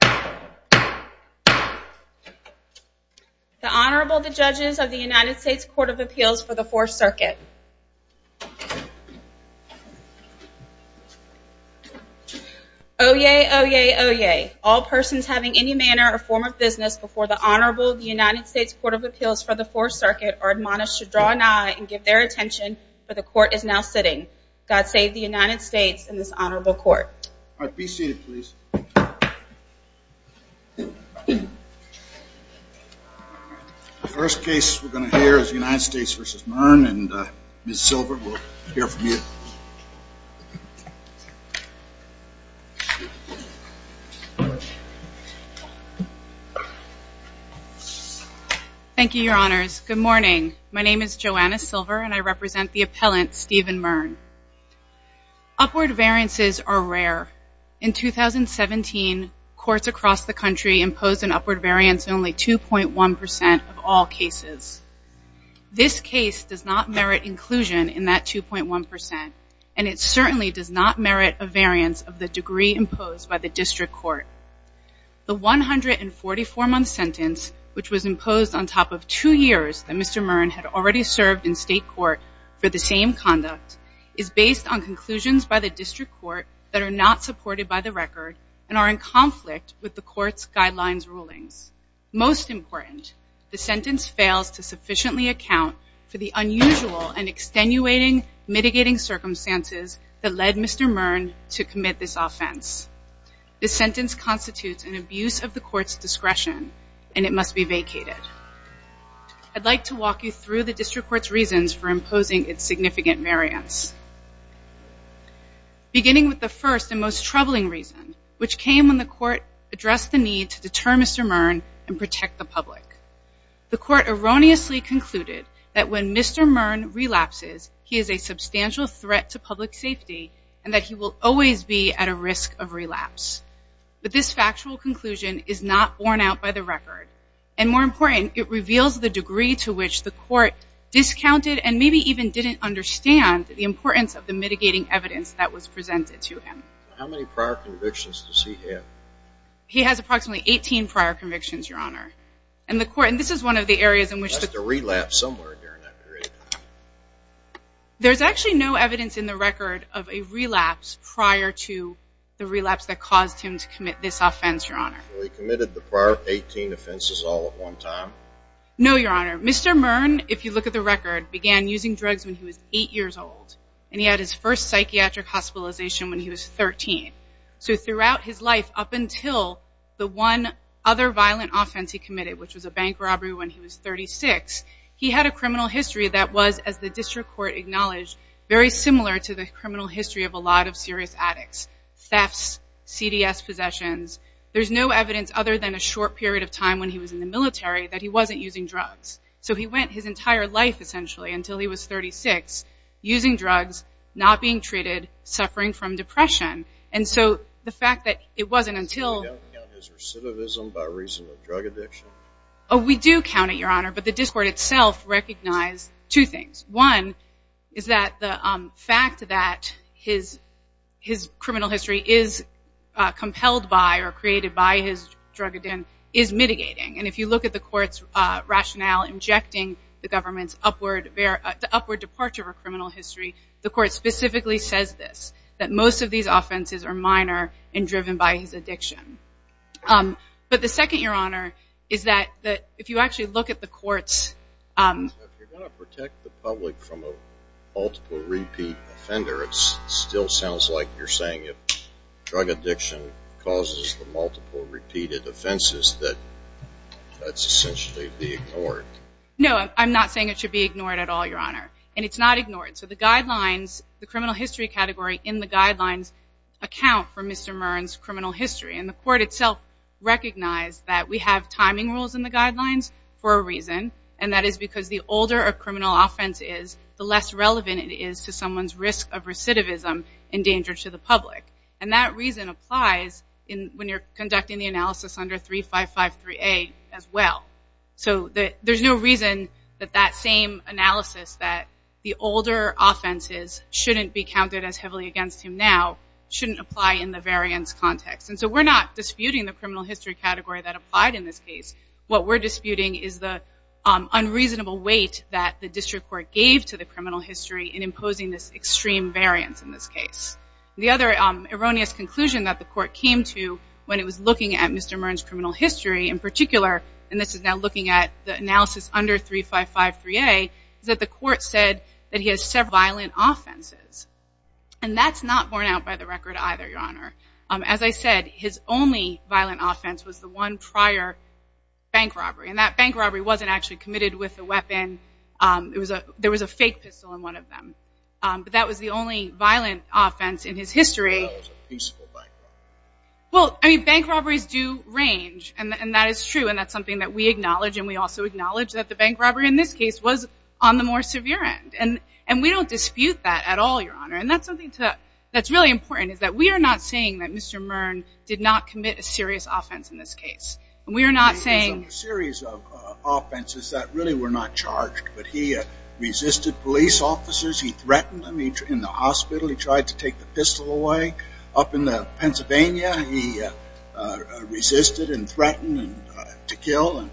The Honorable, the Judges of the United States Court of Appeals for the Fourth Circuit. Oyez! Oyez! Oyez! All persons having any manner or form of business before the Honorable of the United States Court of Appeals for the Fourth Circuit are admonished to draw an eye and give their attention, for the Court is now sitting. God save the United States and this Honorable Court. All right, be seated please. The first case we're going to hear is United States v. Murn and Ms. Silver will hear from you. Thank you, Your Honors. Good morning. My name is Joanna Silver and I represent the appellant Steven Murn. Upward variances are rare. In 2017, courts across the country imposed an upward variance of only 2.1% of all cases. This case does not merit inclusion in that 2.1% and it certainly does not merit a variance of the degree imposed by the district court. The 144-month sentence, which was imposed on top of two years that Mr. Murn had already served in state court for the same conduct, is based on conclusions by the district court that are not supported by the record and are in conflict with the court's guidelines rulings. Most important, the sentence fails to sufficiently account for the unusual and extenuating mitigating circumstances that led Mr. Murn to commit this offense. This sentence constitutes an abuse of the court's discretion and it must be vacated. I'd like to walk you through the district court's reasons for imposing its significant variance. Beginning with the first and most troubling reason, which came when the court addressed the need to deter Mr. Murn and protect the public. The court erroneously concluded that when Mr. Murn relapses, he is a substantial threat to public safety and that he will always be at a risk of relapse. But this factual conclusion is not borne out by the record. And more important, it reveals the degree to which the court discounted and maybe even didn't understand the importance of the mitigating evidence that was presented to him. How many prior convictions does he have? He has approximately 18 prior convictions, Your Honor. And the court, and this is one of the areas in which the... He must have relapsed somewhere during that period. There's actually no evidence in the record of a relapse prior to the relapse that caused him to commit this offense, Your Honor. Well, he committed the prior 18 offenses all at one time? No, Your Honor. Mr. Murn, if you look at the record, began using drugs when he was 8 years old. And he had his first psychiatric hospitalization when he was 13. So throughout his life, up until the one other violent offense he committed, which was a bank robbery when he was 36, he had a criminal history that was, as the district court acknowledged, very similar to the criminal history of a lot of serious addicts. Thefts, CDS possessions. There's no evidence other than a short period of time when he was in the military that he wasn't using drugs. So he went his entire life, essentially, until he was 36, using drugs, not being treated, suffering from depression. And so the fact that it wasn't until- So you don't count his recidivism by reason of drug addiction? Oh, we do count it, Your Honor, but the district court itself recognized two things. One is that the fact that his criminal history is compelled by or created by his drug addiction is mitigating. And if you look at the court's rationale injecting the government's upward departure of a criminal history, the court specifically says this, that most of these offenses are minor and driven by his addiction. But the second, Your Honor, is that if you actually look at the court's- If you're going to protect the public from a multiple repeat offender, it still sounds like you're saying if drug addiction causes the multiple repeated offenses that that's essentially being ignored. No, I'm not saying it should be ignored at all, Your Honor, and it's not ignored. So the guidelines, the criminal history category in the guidelines account for Mr. Mearns' criminal history. And the court itself recognized that we have timing rules in the guidelines for a reason, and that is because the older a criminal offense is, the less relevant it is to someone's risk of recidivism endangered to the public. And that reason applies when you're conducting the analysis under 3553A as well. So there's no reason that that same analysis that the older offenses shouldn't be counted as heavily against him now shouldn't apply in the variance context. And so we're not disputing the criminal history category that applied in this case. What we're disputing is the unreasonable weight that the district court gave to the criminal history in imposing this extreme variance in this case. The other erroneous conclusion that the court came to when it was looking at Mr. Mearns' criminal history in particular, and this is now looking at the analysis under 3553A, is that the court said that he has several violent offenses. And that's not borne out by the record either, Your Honor. As I said, his only violent offense was the one prior bank robbery, and that bank robbery wasn't actually committed with a weapon. There was a fake pistol in one of them. But that was the only violent offense in his history. Well, I mean, bank robberies do range, and that is true, and that's something that we acknowledge, and we also acknowledge that the bank robbery in this case was on the more severe end. And we don't dispute that at all, Your Honor. And that's something that's really important, is that we are not saying that Mr. Mearns did not commit a serious offense in this case. We are not saying... It was a series of offenses that really were not charged, but he resisted police officers. He threatened them in the hospital. He tried to take the pistol away up in Pennsylvania. He resisted and threatened to kill, and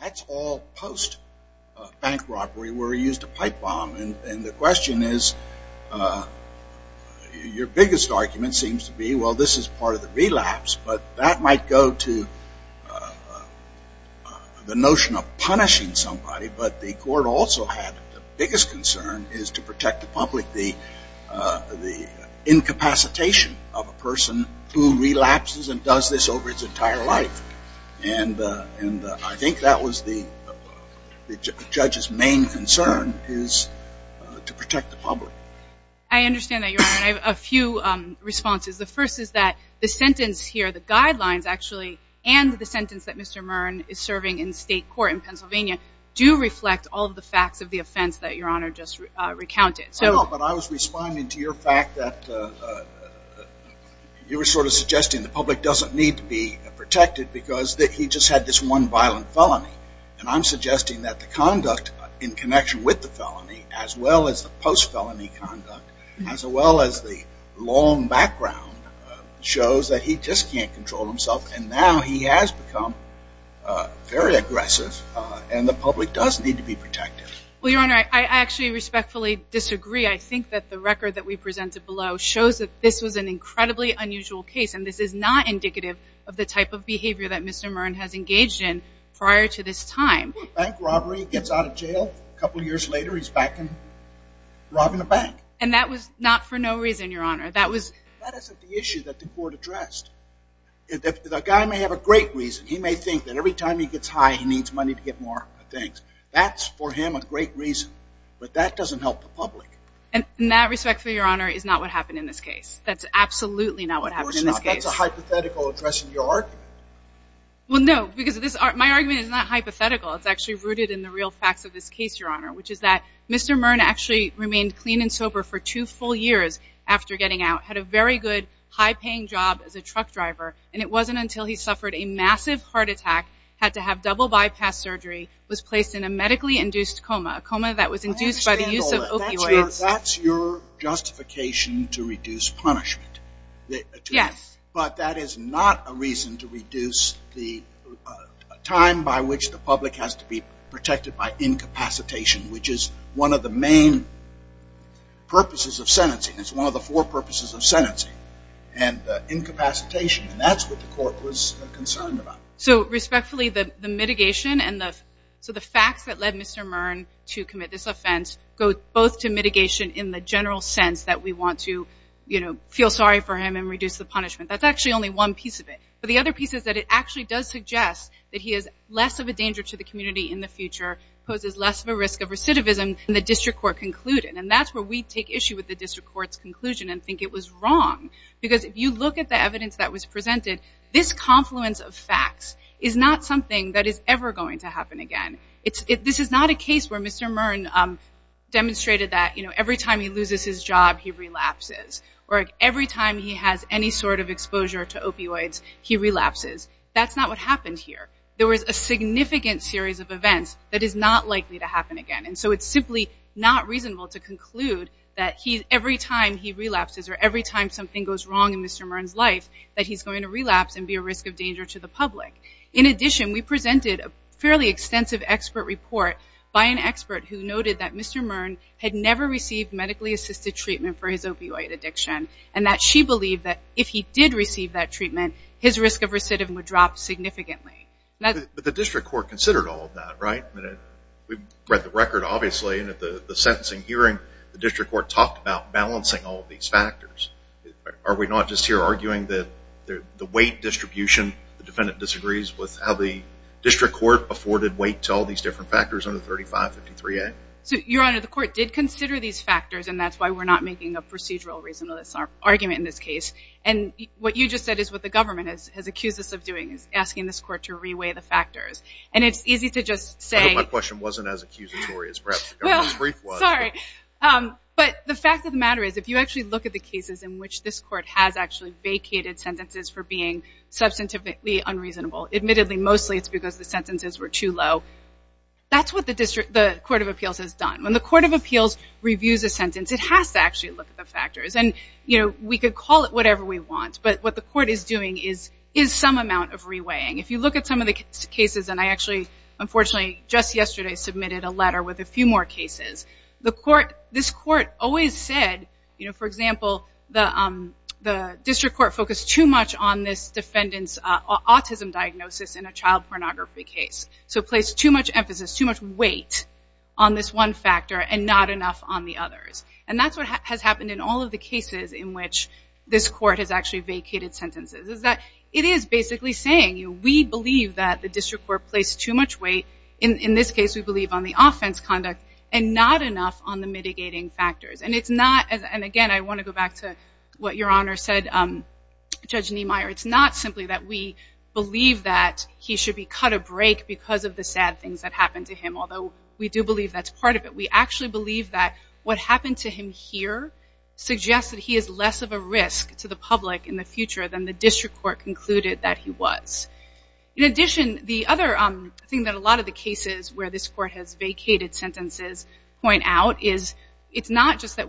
that's all post-bank robbery where he used a pipe bomb. And the question is, your biggest argument seems to be, well, this is part of the relapse, but that might go to the notion of punishing somebody. But the court also had the biggest concern is to protect the public. The incapacitation of a person who relapses and does this over his entire life. And I think that was the judge's main concern is to protect the public. I understand that, Your Honor. I have a few responses. The first is that the sentence here, the guidelines actually, and the sentence that Mr. Mearns is serving in state court in Pennsylvania do reflect all of the facts of the offense that Your Honor just recounted. But I was responding to your fact that you were sort of suggesting the public doesn't need to be protected because he just had this one violent felony. And I'm suggesting that the conduct in connection with the felony, as well as the post-felony conduct, as well as the long background, shows that he just can't control himself. And now he has become very aggressive, and the public does need to be protected. Well, Your Honor, I actually respectfully disagree. I think that the record that we presented below shows that this was an incredibly unusual case, and this is not indicative of the type of behavior that Mr. Mearns has engaged in prior to this time. Bank robbery. He gets out of jail. A couple years later, he's back robbing a bank. And that was not for no reason, Your Honor. That wasn't the issue that the court addressed. The guy may have a great reason. He may think that every time he gets high, he needs money to get more things. That's, for him, a great reason. But that doesn't help the public. And that, respectfully, Your Honor, is not what happened in this case. That's absolutely not what happened in this case. Of course not. That's a hypothetical addressing your argument. Well, no, because my argument is not hypothetical. It's actually rooted in the real facts of this case, Your Honor, which is that Mr. Mearns actually remained clean and sober for two full years after getting out, had a very good, high-paying job as a truck driver, and it wasn't until he suffered a massive heart attack, had to have double bypass surgery, was placed in a medically induced coma, a coma that was induced by the use of opioids. I understand all that. That's your justification to reduce punishment. Yes. But that is not a reason to reduce the time by which the public has to be protected by incapacitation, which is one of the main purposes of sentencing. It's one of the four purposes of sentencing, and incapacitation. And that's what the court was concerned about. So, respectfully, the mitigation and the facts that led Mr. Mearns to commit this offense go both to mitigation in the general sense that we want to, you know, feel sorry for him and reduce the punishment. That's actually only one piece of it. But the other piece is that it actually does suggest that he is less of a danger to the community in the future, poses less of a risk of recidivism than the district court concluded. And that's where we take issue with the district court's conclusion and think it was wrong. Because if you look at the evidence that was presented, this confluence of facts is not something that is ever going to happen again. This is not a case where Mr. Mearns demonstrated that, you know, every time he loses his job, he relapses. Or every time he has any sort of exposure to opioids, he relapses. That's not what happened here. There was a significant series of events that is not likely to happen again. And so it's simply not reasonable to conclude that every time he relapses or every time something goes wrong in Mr. Mearns' life, that he's going to relapse and be a risk of danger to the public. In addition, we presented a fairly extensive expert report by an expert who noted that Mr. Mearns had never received medically-assisted treatment for his opioid addiction and that she believed that if he did receive that treatment, his risk of recidivism would drop significantly. But the district court considered all of that, right? We've read the record, obviously, and at the sentencing hearing, the district court talked about balancing all of these factors. Are we not just here arguing that the weight distribution, the defendant disagrees with how the district court afforded weight to all these different factors under 3553A? Your Honor, the court did consider these factors, and that's why we're not making a procedural reasonableness argument in this case. And what you just said is what the government has accused us of doing, is asking this court to reweigh the factors. And it's easy to just say— I hope my question wasn't as accusatory as perhaps the government's brief was. Sorry. But the fact of the matter is, if you actually look at the cases in which this court has actually vacated sentences for being substantively unreasonable— admittedly, mostly it's because the sentences were too low— that's what the court of appeals has done. When the court of appeals reviews a sentence, it has to actually look at the factors. And, you know, we could call it whatever we want, but what the court is doing is some amount of reweighing. If you look at some of the cases— I actually, unfortunately, just yesterday submitted a letter with a few more cases. This court always said, for example, the district court focused too much on this defendant's autism diagnosis in a child pornography case. So it placed too much emphasis, too much weight on this one factor and not enough on the others. And that's what has happened in all of the cases in which this court has actually vacated sentences, is that it is basically saying, we believe that the district court placed too much weight— in this case, we believe on the offense conduct— and not enough on the mitigating factors. And it's not—and again, I want to go back to what Your Honor said, Judge Niemeyer— it's not simply that we believe that he should be cut a break because of the sad things that happened to him, although we do believe that's part of it. We actually believe that what happened to him here suggests that he is less of a risk to the public in the future than the district court concluded that he was. In addition, the other thing that a lot of the cases where this court has vacated sentences point out is it's not just that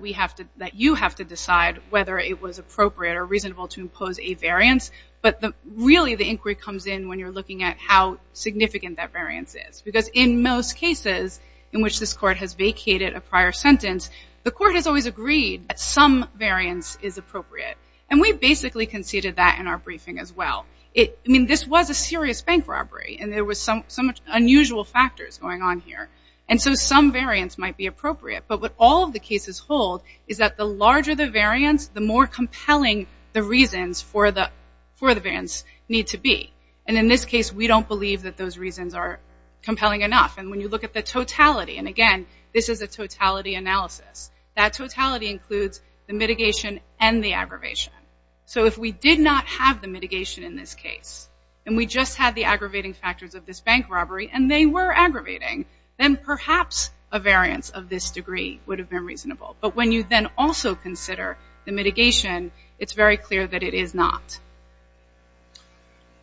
you have to decide whether it was appropriate or reasonable to impose a variance, but really the inquiry comes in when you're looking at how significant that variance is. Because in most cases in which this court has vacated a prior sentence, the court has always agreed that some variance is appropriate. And we basically conceded that in our briefing as well. I mean, this was a serious bank robbery, and there were some unusual factors going on here. And so some variance might be appropriate, but what all of the cases hold is that the larger the variance, the more compelling the reasons for the variance need to be. And in this case, we don't believe that those reasons are compelling enough. And when you look at the totality—and again, this is a totality analysis— that totality includes the mitigation and the aggravation. So if we did not have the mitigation in this case, and we just had the aggravating factors of this bank robbery, and they were aggravating, then perhaps a variance of this degree would have been reasonable. But when you then also consider the mitigation, it's very clear that it is not.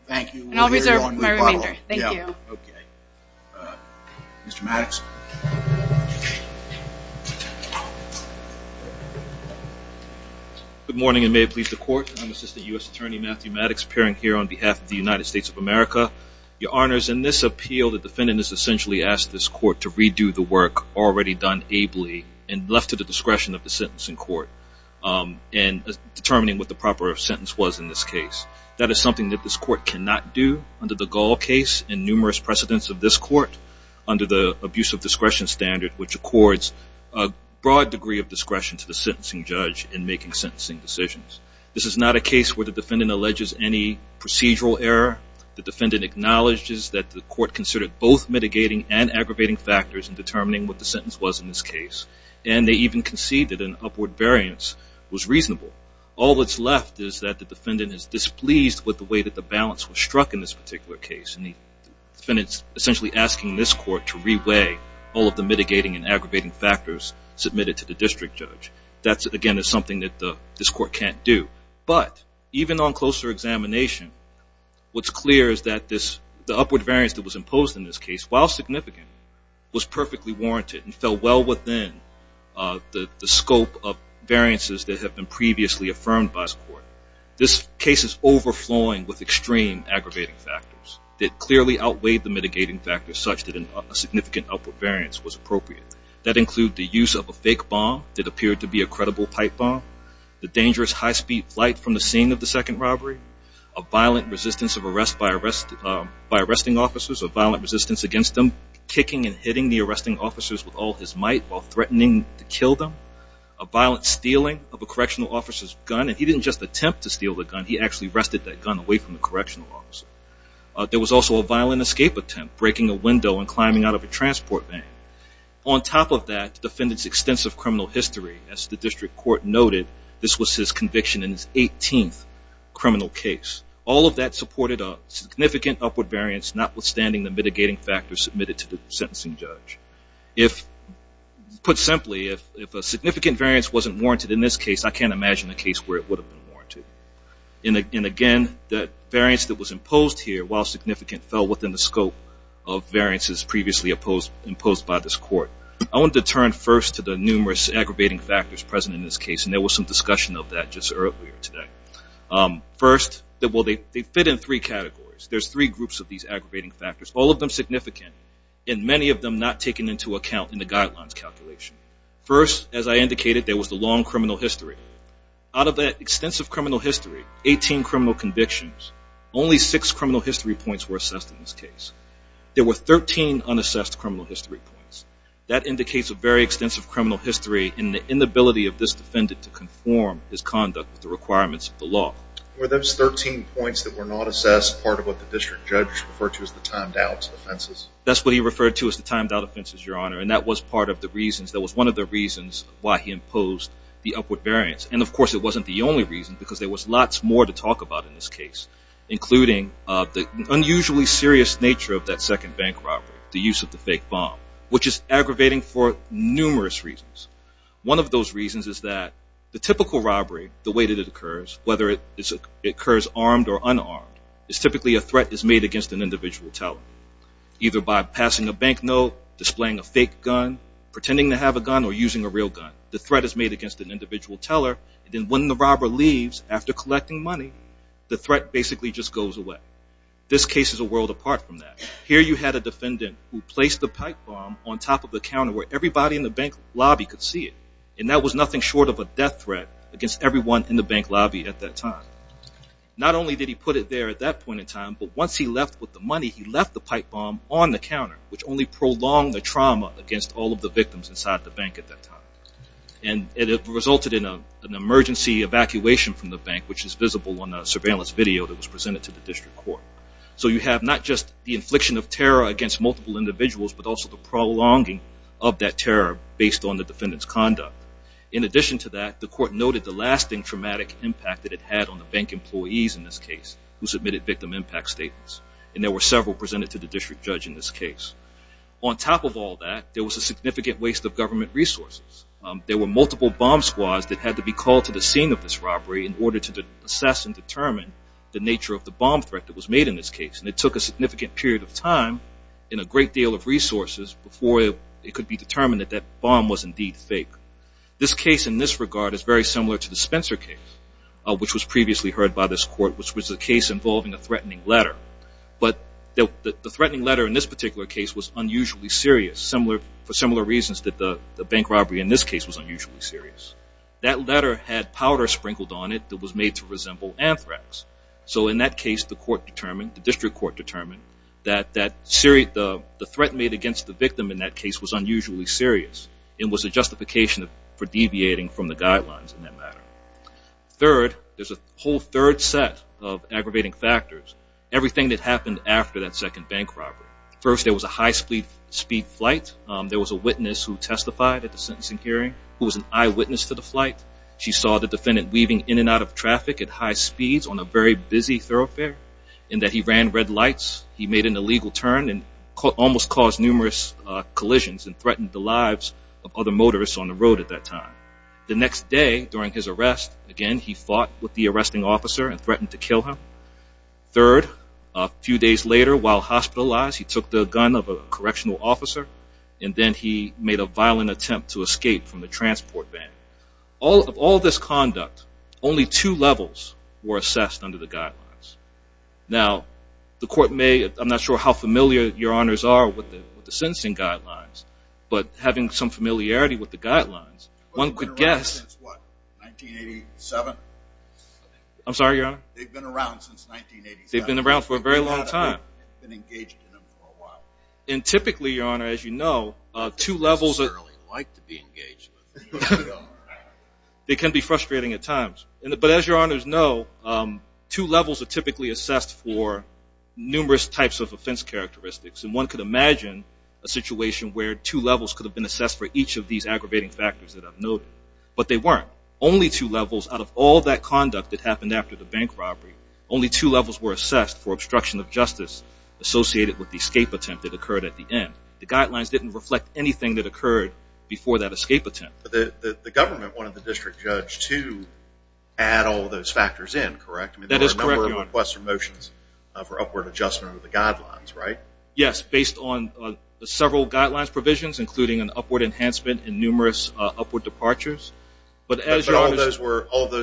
And I'll reserve my remainder. Thank you. Mr. Maddox. Good morning, and may it please the Court. I'm Assistant U.S. Attorney Matthew Maddox, appearing here on behalf of the United States of America. Your Honors, in this appeal, the defendant is essentially asked this Court to redo the work already done ably and left to the discretion of the sentencing court in determining what the proper sentence was in this case. That is something that this Court cannot do under the Gall case and numerous precedents of this Court, under the abuse of discretion standard, which accords a broad degree of discretion to the sentencing judge in making sentencing decisions. This is not a case where the defendant alleges any procedural error. The defendant acknowledges that the Court considered both mitigating and aggravating factors in determining what the sentence was in this case. And they even concede that an upward variance was reasonable. All that's left is that the defendant is displeased with the way that the balance was struck in this particular case, and the defendant's essentially asking this Court to reweigh all of the mitigating and aggravating factors submitted to the district judge. That, again, is something that this Court can't do. But even on closer examination, what's clear is that the upward variance that was imposed in this case, and fell well within the scope of variances that have been previously affirmed by this Court, this case is overflowing with extreme aggravating factors that clearly outweigh the mitigating factors such that a significant upward variance was appropriate. That includes the use of a fake bomb that appeared to be a credible pipe bomb, the dangerous high-speed flight from the scene of the second robbery, a violent resistance of arrest by arresting officers, a violent resistance against them, kicking and hitting the arresting officers with all his might while threatening to kill them, a violent stealing of a correctional officer's gun, and he didn't just attempt to steal the gun, he actually wrested that gun away from the correctional officer. There was also a violent escape attempt, breaking a window and climbing out of a transport van. On top of that, the defendant's extensive criminal history. As the district court noted, this was his conviction in his 18th criminal case. All of that supported a significant upward variance, notwithstanding the mitigating factors submitted to the sentencing judge. Put simply, if a significant variance wasn't warranted in this case, I can't imagine a case where it would have been warranted. And again, that variance that was imposed here, while significant, fell within the scope of variances previously imposed by this court. I wanted to turn first to the numerous aggravating factors present in this case, and there was some discussion of that just earlier today. First, they fit in three categories. There's three groups of these aggravating factors, all of them significant, and many of them not taken into account in the guidelines calculation. First, as I indicated, there was the long criminal history. Out of that extensive criminal history, 18 criminal convictions, only six criminal history points were assessed in this case. There were 13 unassessed criminal history points. That indicates a very extensive criminal history in the inability of this defendant to conform his conduct with the requirements of the law. Were those 13 points that were not assessed part of what the district judge referred to as the timed-out offenses? That's what he referred to as the timed-out offenses, Your Honor, and that was part of the reasons. That was one of the reasons why he imposed the upward variance. And, of course, it wasn't the only reason because there was lots more to talk about in this case, including the unusually serious nature of that second bank robbery, the use of the fake bomb, which is aggravating for numerous reasons. One of those reasons is that the typical robbery, the way that it occurs, whether it occurs armed or unarmed, is typically a threat is made against an individual teller, either by passing a bank note, displaying a fake gun, pretending to have a gun, or using a real gun. The threat is made against an individual teller, and then when the robber leaves after collecting money, the threat basically just goes away. This case is a world apart from that. Here you had a defendant who placed the pipe bomb on top of the counter where everybody in the bank lobby could see it, and that was nothing short of a death threat against everyone in the bank lobby at that time. Not only did he put it there at that point in time, but once he left with the money, he left the pipe bomb on the counter, which only prolonged the trauma against all of the victims inside the bank at that time. And it resulted in an emergency evacuation from the bank, which is visible on the surveillance video that was presented to the district court. So you have not just the infliction of terror against multiple individuals, but also the prolonging of that terror based on the defendant's conduct. In addition to that, the court noted the lasting traumatic impact that it had on the bank employees in this case who submitted victim impact statements, and there were several presented to the district judge in this case. On top of all that, there was a significant waste of government resources. There were multiple bomb squads that had to be called to the scene of this robbery in order to assess and determine the nature of the bomb threat that was made in this case, and it took a significant period of time and a great deal of resources before it could be determined that that bomb was indeed fake. This case in this regard is very similar to the Spencer case, which was previously heard by this court, which was a case involving a threatening letter. But the threatening letter in this particular case was unusually serious for similar reasons that the bank robbery in this case was unusually serious. That letter had powder sprinkled on it that was made to resemble anthrax. So in that case, the district court determined that the threat made against the victim in that case was unusually serious and was a justification for deviating from the guidelines in that matter. Third, there's a whole third set of aggravating factors, everything that happened after that second bank robbery. First, there was a high-speed flight. There was a witness who testified at the sentencing hearing who was an eyewitness to the flight. She saw the defendant weaving in and out of traffic at high speeds on a very busy thoroughfare in that he ran red lights, he made an illegal turn and almost caused numerous collisions and threatened the lives of other motorists on the road at that time. The next day during his arrest, again, he fought with the arresting officer and threatened to kill him. Third, a few days later, while hospitalized, he took the gun of a correctional officer, and then he made a violent attempt to escape from the transport van. Of all this conduct, only two levels were assessed under the guidelines. Now, the court may, I'm not sure how familiar your honors are with the sentencing guidelines, but having some familiarity with the guidelines, one could guess... They've been around since what, 1987? I'm sorry, your honor? They've been around since 1987. They've been around for a very long time. They've been engaged in them for a while. And typically, your honor, as you know, two levels... They can be frustrating at times. But as your honors know, two levels are typically assessed for numerous types of offense characteristics. And one could imagine a situation where two levels could have been assessed for each of these aggravating factors that I've noted. But they weren't. Only two levels out of all that conduct that happened after the bank robbery, only two levels were assessed for obstruction of justice associated with the escape attempt that occurred at the end. The guidelines didn't reflect anything that occurred before that escape attempt. The government wanted the district judge to add all those factors in, correct? That is correct. There were a number of requests or motions for upward adjustment of the guidelines, right? Yes, based on several guidelines provisions, including an upward enhancement and numerous upward departures. But all of those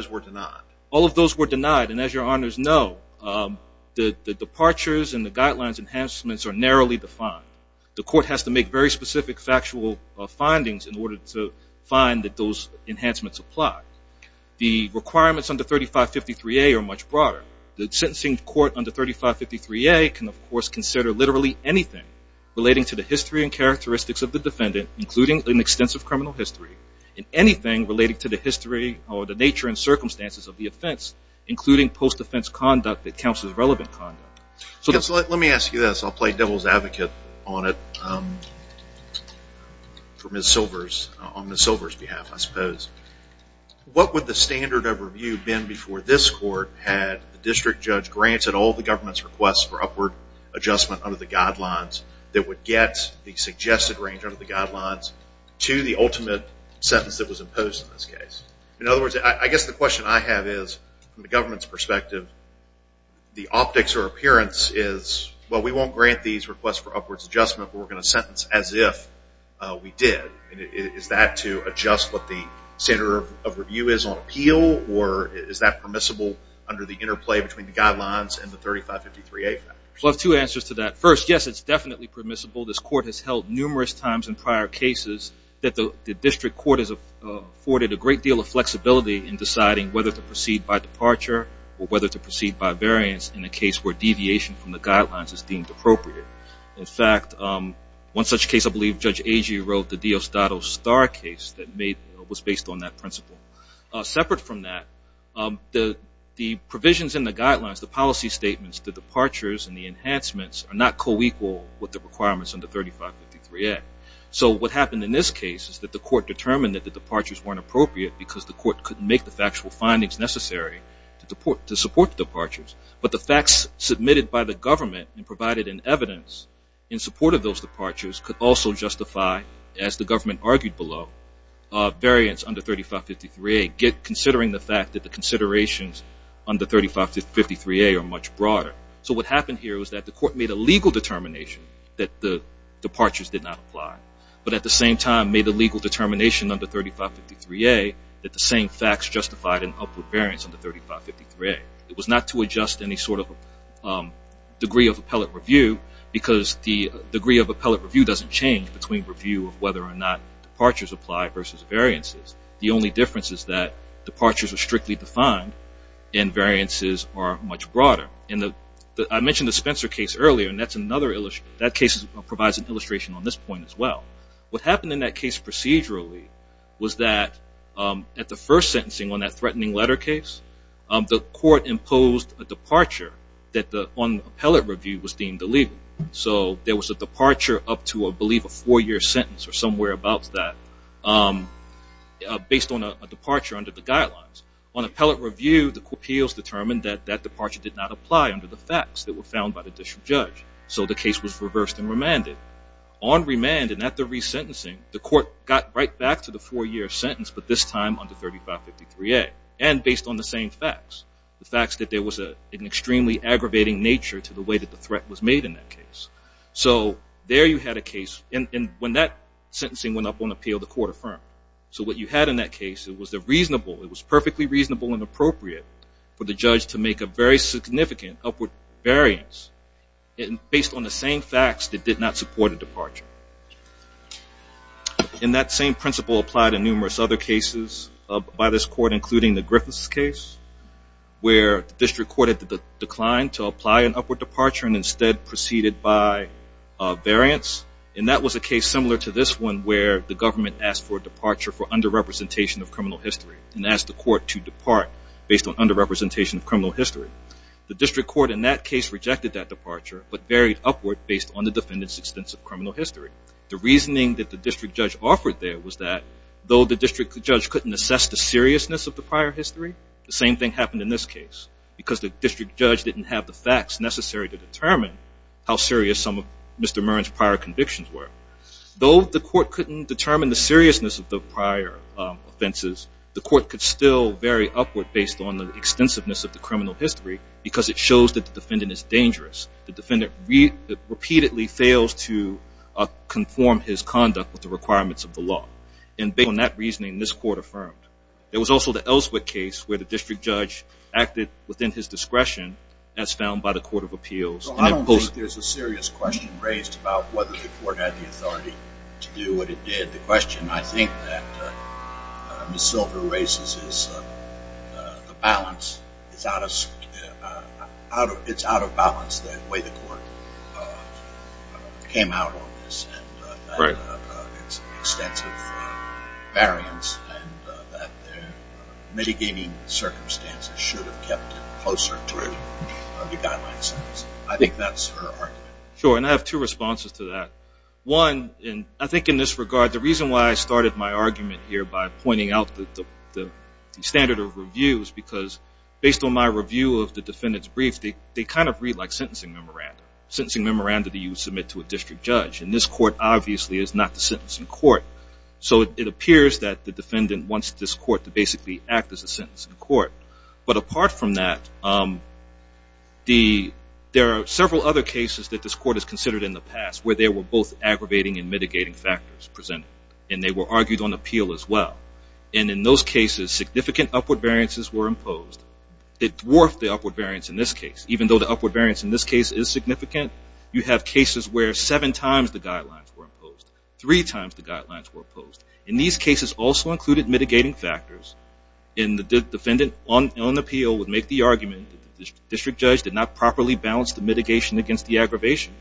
were denied. All of those were denied. And as your honors know, the departures and the guidelines enhancements are narrowly defined. The court has to make very specific factual findings in order to find that those enhancements apply. The requirements under 3553A are much broader. The sentencing court under 3553A can, of course, consider literally anything relating to the history and characteristics of the defendant, including an extensive criminal history, and anything relating to the history or the nature and circumstances of the offense, including post-defense conduct that counts as relevant conduct. Let me ask you this. I'll play devil's advocate on it on Ms. Silver's behalf, I suppose. What would the standard of review have been before this court had the district judge granted all the government's requests for upward adjustment under the guidelines that would get the suggested range under the guidelines to the ultimate sentence that was imposed in this case? In other words, I guess the question I have is, from the government's perspective, the optics or appearance is, well, we won't grant these requests for upwards adjustment, but we're going to sentence as if we did. Is that to adjust what the standard of review is on appeal, or is that permissible under the interplay between the guidelines and the 3553A? Well, I have two answers to that. First, yes, it's definitely permissible. This court has held numerous times in prior cases that the district court has afforded a great deal of flexibility in deciding whether to proceed by departure or whether to proceed by variance in a case where deviation from the guidelines is deemed appropriate. In fact, one such case, I believe Judge Agee wrote, the Diosdado Star case that was based on that principle. Separate from that, the provisions in the guidelines, the policy statements, the departures and the enhancements are not co-equal with the requirements under 3553A. So what happened in this case is that the court determined that the departures weren't appropriate because the court couldn't make the factual findings necessary to support the departures. But the facts submitted by the government and provided in evidence in support of those departures could also justify, as the government argued below, variance under 3553A, considering the fact that the considerations under 3553A are much broader. So what happened here was that the court made a legal determination that the departures did not apply, but at the same time made a legal determination under 3553A that the same facts justified an upward variance under 3553A. It was not to adjust any sort of degree of appellate review because the degree of appellate review doesn't change between review of whether or not departures apply versus variances. The only difference is that departures are strictly defined and variances are much broader. I mentioned the Spencer case earlier, and that case provides an illustration on this point as well. What happened in that case procedurally was that at the first sentencing on that threatening letter case, the court imposed a departure that on appellate review was deemed illegal. So there was a departure up to, I believe, a four-year sentence or somewhere about that based on a departure under the guidelines. On appellate review, the appeals determined that that departure did not apply under the facts that were found by the district judge, so the case was reversed and remanded. On remand and at the resentencing, the court got right back to the four-year sentence, but this time under 3553A and based on the same facts, the facts that there was an extremely aggravating nature to the way that the threat was made in that case. So there you had a case, and when that sentencing went up on appeal, the court affirmed. So what you had in that case, it was a reasonable, it was perfectly reasonable and appropriate for the judge to make a very significant upward variance based on the same facts that did not support a departure. And that same principle applied in numerous other cases by this court, including the Griffiths case, where the district court declined to apply an upward departure and instead proceeded by variance. where the government asked for a departure for underrepresentation of criminal history and asked the court to depart based on underrepresentation of criminal history. The district court in that case rejected that departure, but varied upward based on the defendant's extensive criminal history. The reasoning that the district judge offered there was that though the district judge couldn't assess the seriousness of the prior history, the same thing happened in this case because the district judge didn't have the facts necessary to determine how serious some of Mr. Murren's prior convictions were. Though the court couldn't determine the seriousness of the prior offenses, the court could still vary upward based on the extensiveness of the criminal history because it shows that the defendant is dangerous. The defendant repeatedly fails to conform his conduct with the requirements of the law. And based on that reasoning, this court affirmed. There was also the Ellswick case where the district judge acted within his discretion as found by the Court of Appeals. So I don't think there's a serious question raised about whether the court had the authority to do what it did. The question I think that Ms. Silver raises is the balance. It's out of balance the way the court came out on this and that it's extensive variance and that mitigating circumstances should have kept it closer to the guideline sentence. I think that's her argument. Sure, and I have two responses to that. One, I think in this regard, the reason why I started my argument here by pointing out the standard of review is because based on my review of the defendant's brief, they kind of read like sentencing memoranda. Sentencing memoranda that you would submit to a district judge. And this court obviously is not the sentencing court. So it appears that the defendant wants this court to basically act as a sentencing court. But apart from that, there are several other cases that this court has considered in the past where they were both aggravating and mitigating factors presented. And they were argued on appeal as well. And in those cases, significant upward variances were imposed. It dwarfed the upward variance in this case. Even though the upward variance in this case is significant, you have cases where seven times the guidelines were imposed. Three times the guidelines were imposed. And these cases also included mitigating factors and the defendant on appeal would make the argument that the district judge did not properly balance the mitigation against the aggravation.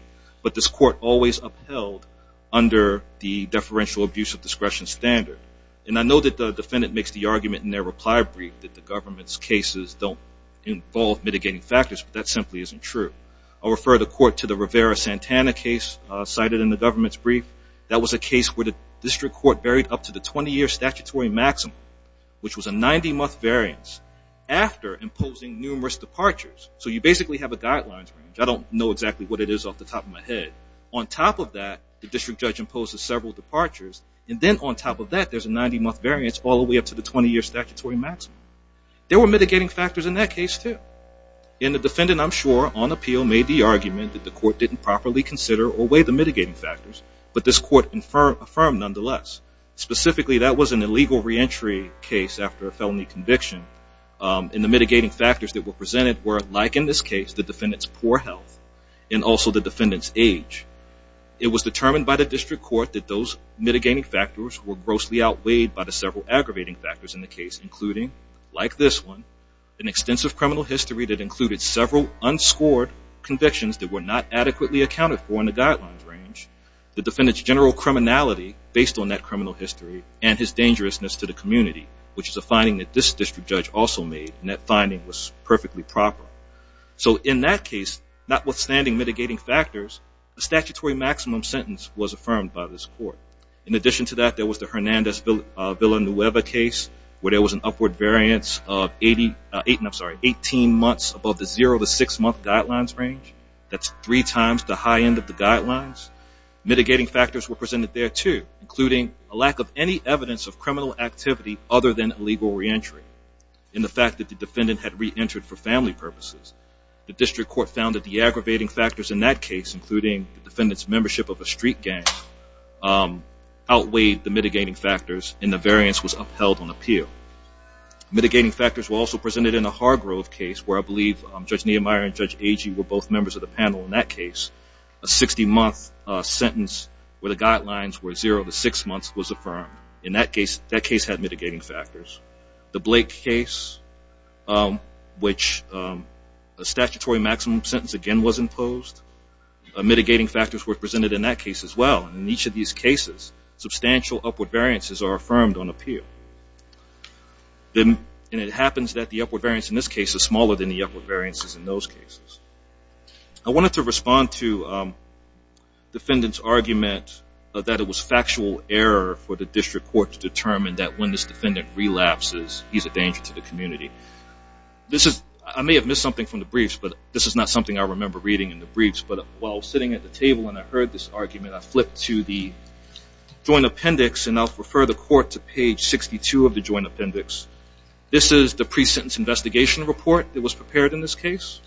But this court always upheld under the deferential abuse of discretion standard. And I know that the defendant makes the argument in their reply brief that the government's cases don't involve mitigating factors, but that simply isn't true. I'll refer the court to the Rivera-Santana case cited in the government's brief. That was a case where the district court varied up to the 20-year statutory maximum, which was a 90-month variance, after imposing numerous departures. So you basically have a guidelines range. I don't know exactly what it is off the top of my head. On top of that, the district judge imposes several departures. And then on top of that, there's a 90-month variance all the way up to the 20-year statutory maximum. There were mitigating factors in that case too. And the defendant, I'm sure, on appeal, made the argument that the court didn't properly consider or weigh the mitigating factors. But this court affirmed nonetheless. Specifically, that was an illegal reentry case after a felony conviction. And the mitigating factors that were presented were, like in this case, the defendant's poor health and also the defendant's age. It was determined by the district court that those mitigating factors were grossly outweighed by the several aggravating factors in the case, including, like this one, an extensive criminal history that included several unscored convictions that were not adequately accounted for in the guidelines range. The defendant's general criminality, based on that criminal history, and his dangerousness to the community, which is a finding that this district judge also made, and that finding was perfectly proper. So in that case, notwithstanding mitigating factors, the statutory maximum sentence was affirmed by this court. In addition to that, there was the Hernandez-Villanueva case, where there was an upward variance of 18 months above the zero-to-six-month guidelines range. That's three times the high end of the guidelines. Mitigating factors were presented there, too, including a lack of any evidence of criminal activity other than illegal reentry, and the fact that the defendant had reentered for family purposes. The district court found that the aggravating factors in that case, including the defendant's membership of a street gang, outweighed the mitigating factors, and the variance was upheld on appeal. Mitigating factors were also presented in the Hargrove case, where I believe Judge Niemeyer and Judge Agee were both members of the panel in that case. A 60-month sentence where the guidelines were zero to six months was affirmed. In that case, that case had mitigating factors. The Blake case, which a statutory maximum sentence again was imposed, mitigating factors were presented in that case as well. In each of these cases, substantial upward variances are affirmed on appeal. And it happens that the upward variance in this case is smaller than the upward variances in those cases. I wanted to respond to the defendant's argument that it was factual error for the district court to determine that when this defendant relapses, he's a danger to the community. I may have missed something from the briefs, but this is not something I remember reading in the briefs. But while sitting at the table and I heard this argument, I flipped to the joint appendix, and I'll refer the court to page 62 of the joint appendix. This is the pre-sentence investigation report that was prepared in this case.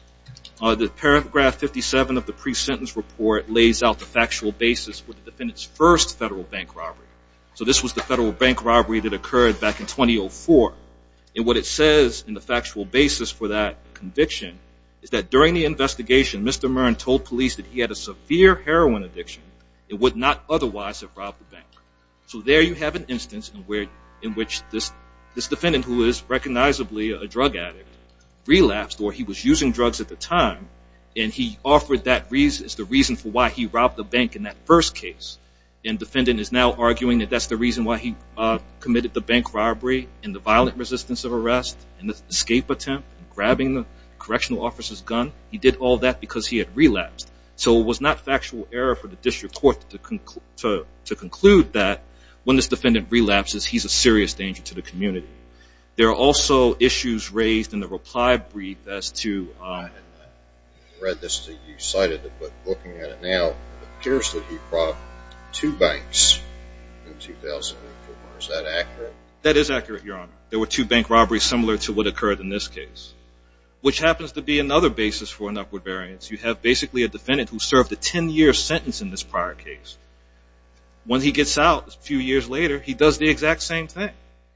The paragraph 57 of the pre-sentence report lays out the factual basis for the defendant's first federal bank robbery. So this was the federal bank robbery that occurred back in 2004. And what it says in the factual basis for that conviction is that during the investigation, Mr. Mern told police that he had a severe heroin addiction and would not otherwise have robbed the bank. So there you have an instance in which this defendant, who is recognizably a drug addict, relapsed, or he was using drugs at the time, and he offered that as the reason for why he robbed the bank in that first case. And the defendant is now arguing that that's the reason why he committed the bank robbery and the violent resistance of arrest and the escape attempt and grabbing the correctional officer's gun. He did all that because he had relapsed. So it was not factual error for the district court to conclude that when this defendant relapses, he's a serious danger to the community. There are also issues raised in the reply brief as to... I read this and you cited it, but looking at it now, it appears that he robbed two banks in 2004. Is that accurate? That is accurate, Your Honor. There were two bank robberies similar to what occurred in this case, which happens to be another basis for an upward variance. You have basically a defendant who served a 10-year sentence in this prior case. When he gets out a few years later, he does the exact same thing.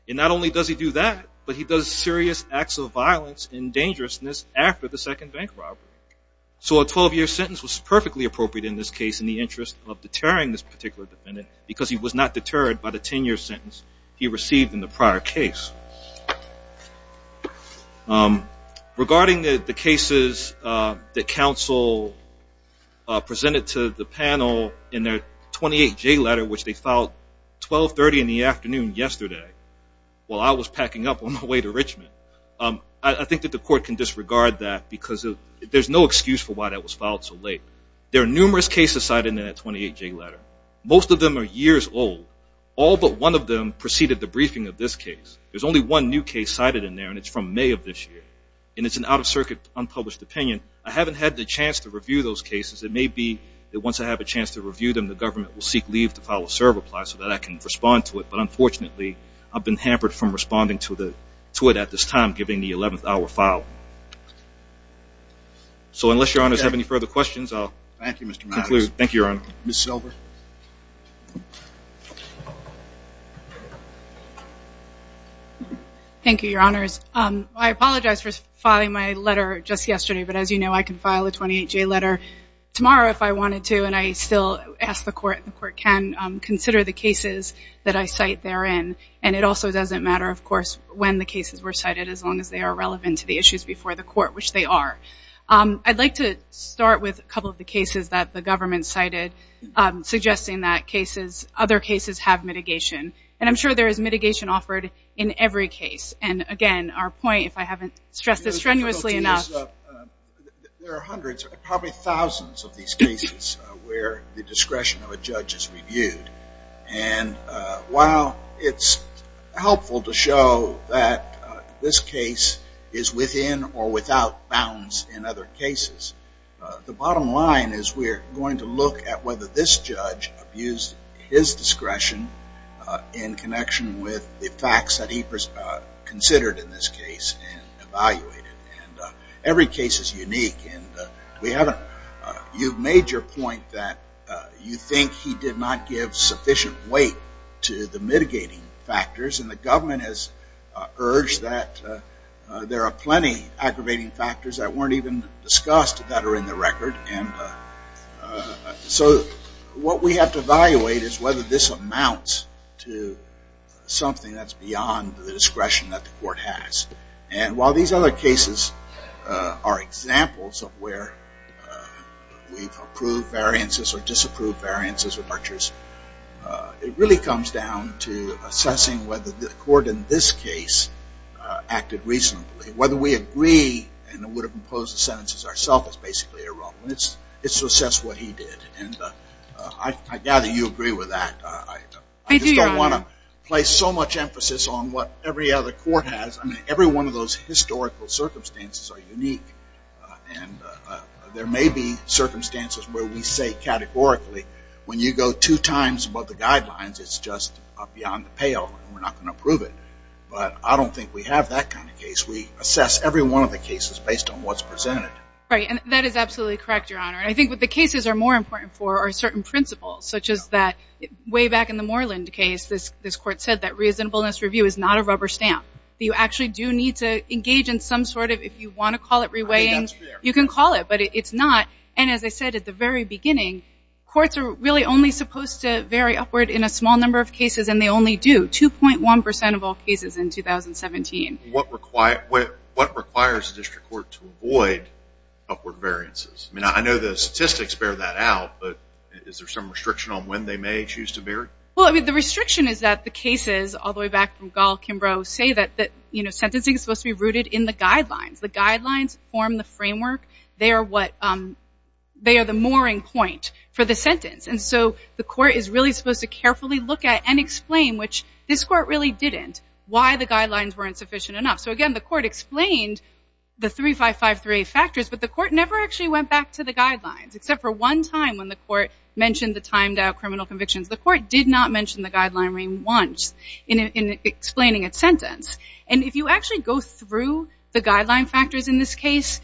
And not only does he do that, but he does serious acts of violence and dangerousness after the second bank robbery. So a 12-year sentence was perfectly appropriate in this case in the interest of deterring this particular defendant because he was not deterred by the 10-year sentence he received in the prior case. Regarding the cases that counsel presented to the panel in their 28-J letter, which they filed 12.30 in the afternoon yesterday while I was packing up on my way to Richmond, I think that the court can disregard that because there's no excuse for why that was filed so late. There are numerous cases cited in that 28-J letter. Most of them are years old. All but one of them preceded the briefing of this case. There's only one new case cited in there, and it's from May of this year. And it's an out-of-circuit, unpublished opinion. I haven't had the chance to review those cases. It may be that once I have a chance to review them, the government will seek leave to file a serve-apply so that I can respond to it. But unfortunately, I've been hampered from responding to it at this time, giving the 11th-hour file. So unless Your Honors have any further questions, I'll conclude. Thank you, Your Honor. Ms. Silver. Thank you, Your Honors. I apologize for filing my letter just yesterday, but as you know I can file a 28-J letter tomorrow if I wanted to, and I still ask the court, and the court can consider the cases that I cite therein. And it also doesn't matter, of course, when the cases were cited, as long as they are relevant to the issues before the court, which they are. I'd like to start with a couple of the cases that the government cited, suggesting that other cases have mitigation. And I'm sure there is mitigation offered in every case. And again, our point, if I haven't stressed this strenuously enough... There are hundreds, probably thousands of these cases where the discretion of a judge is reviewed. And while it's helpful to show that this case is within or without bounds in other cases, the bottom line is we're going to look at whether this judge abused his discretion in connection with the facts that he considered in this case and evaluated. And every case is unique. You've made your point that you think he did not give sufficient weight to the mitigating factors, and the government has urged that there are plenty of aggravating factors that weren't even discussed that are in the record. So what we have to evaluate is whether this amounts to something that's beyond the discretion that the court has. And while these other cases are examples of where we've approved variances or disapproved variances or butchers, it really comes down to assessing whether the court in this case acted reasonably. Whether we agree and would have imposed the sentences ourselves is basically irrelevant. It's to assess what he did. And I gather you agree with that. I just don't want to place so much emphasis on what every other court has. I mean, every one of those historical circumstances are unique. And there may be circumstances where we say categorically when you go two times above the guidelines it's just beyond the pale and we're not going to approve it. But I don't think we have that kind of case. We assess every one of the cases based on what's presented. Right, and that is absolutely correct, Your Honor. I think what the cases are more important for are certain principles, such as that way back in the Moreland case this court said that reasonableness review is not a rubber stamp. You actually do need to engage in some sort of, if you want to call it reweighing, you can call it, but it's not. And as I said at the very beginning, courts are really only supposed to vary upward in a small number of cases, and they only do 2.1% of all cases in 2017. What requires a district court to avoid upward variances? I mean, I know the statistics bear that out, but is there some restriction on when they may choose to vary? Well, I mean, the restriction is that the cases all the way back from Gall-Kimbrough say that sentencing is supposed to be rooted in the guidelines. The guidelines form the framework. They are the mooring point for the sentence. And so the court is really supposed to carefully look at and explain, which this court really didn't, why the guidelines weren't sufficient enough. So again, the court explained the 35538 factors, but the court never actually went back to the guidelines, except for one time when the court mentioned the timed-out criminal convictions. The court did not mention the guideline once in explaining its sentence. And if you actually go through the guideline factors in this case,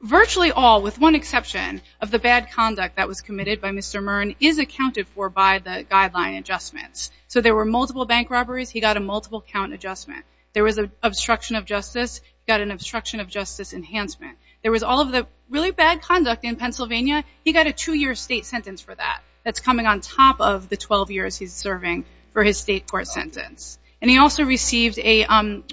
virtually all, with one exception, of the bad conduct that was committed by Mr. Mearn is accounted for by the guideline adjustments. So there were multiple bank robberies. He got a multiple count adjustment. There was an obstruction of justice. He got an obstruction of justice enhancement. There was all of the really bad conduct in Pennsylvania. He got a two-year state sentence for that. That's coming on top of the 12 years he's serving for his state court sentence. And he also received a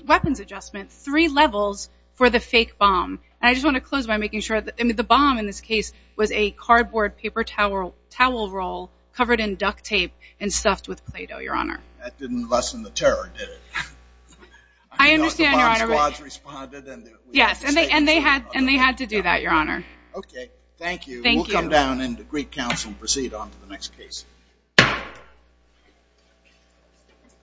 weapons adjustment, three levels, for the fake bomb. And I just want to close by making sure that the bomb in this case was a cardboard paper towel roll covered in duct tape and stuffed with Play-Doh, Your Honor. That didn't lessen the terror, did it? I understand, Your Honor. I mean, the bomb squads responded, and we had to say something about that. Yes, and they had to do that, Your Honor. Okay. Thank you. Thank you. We'll come down into Greek Council and proceed on to the next case.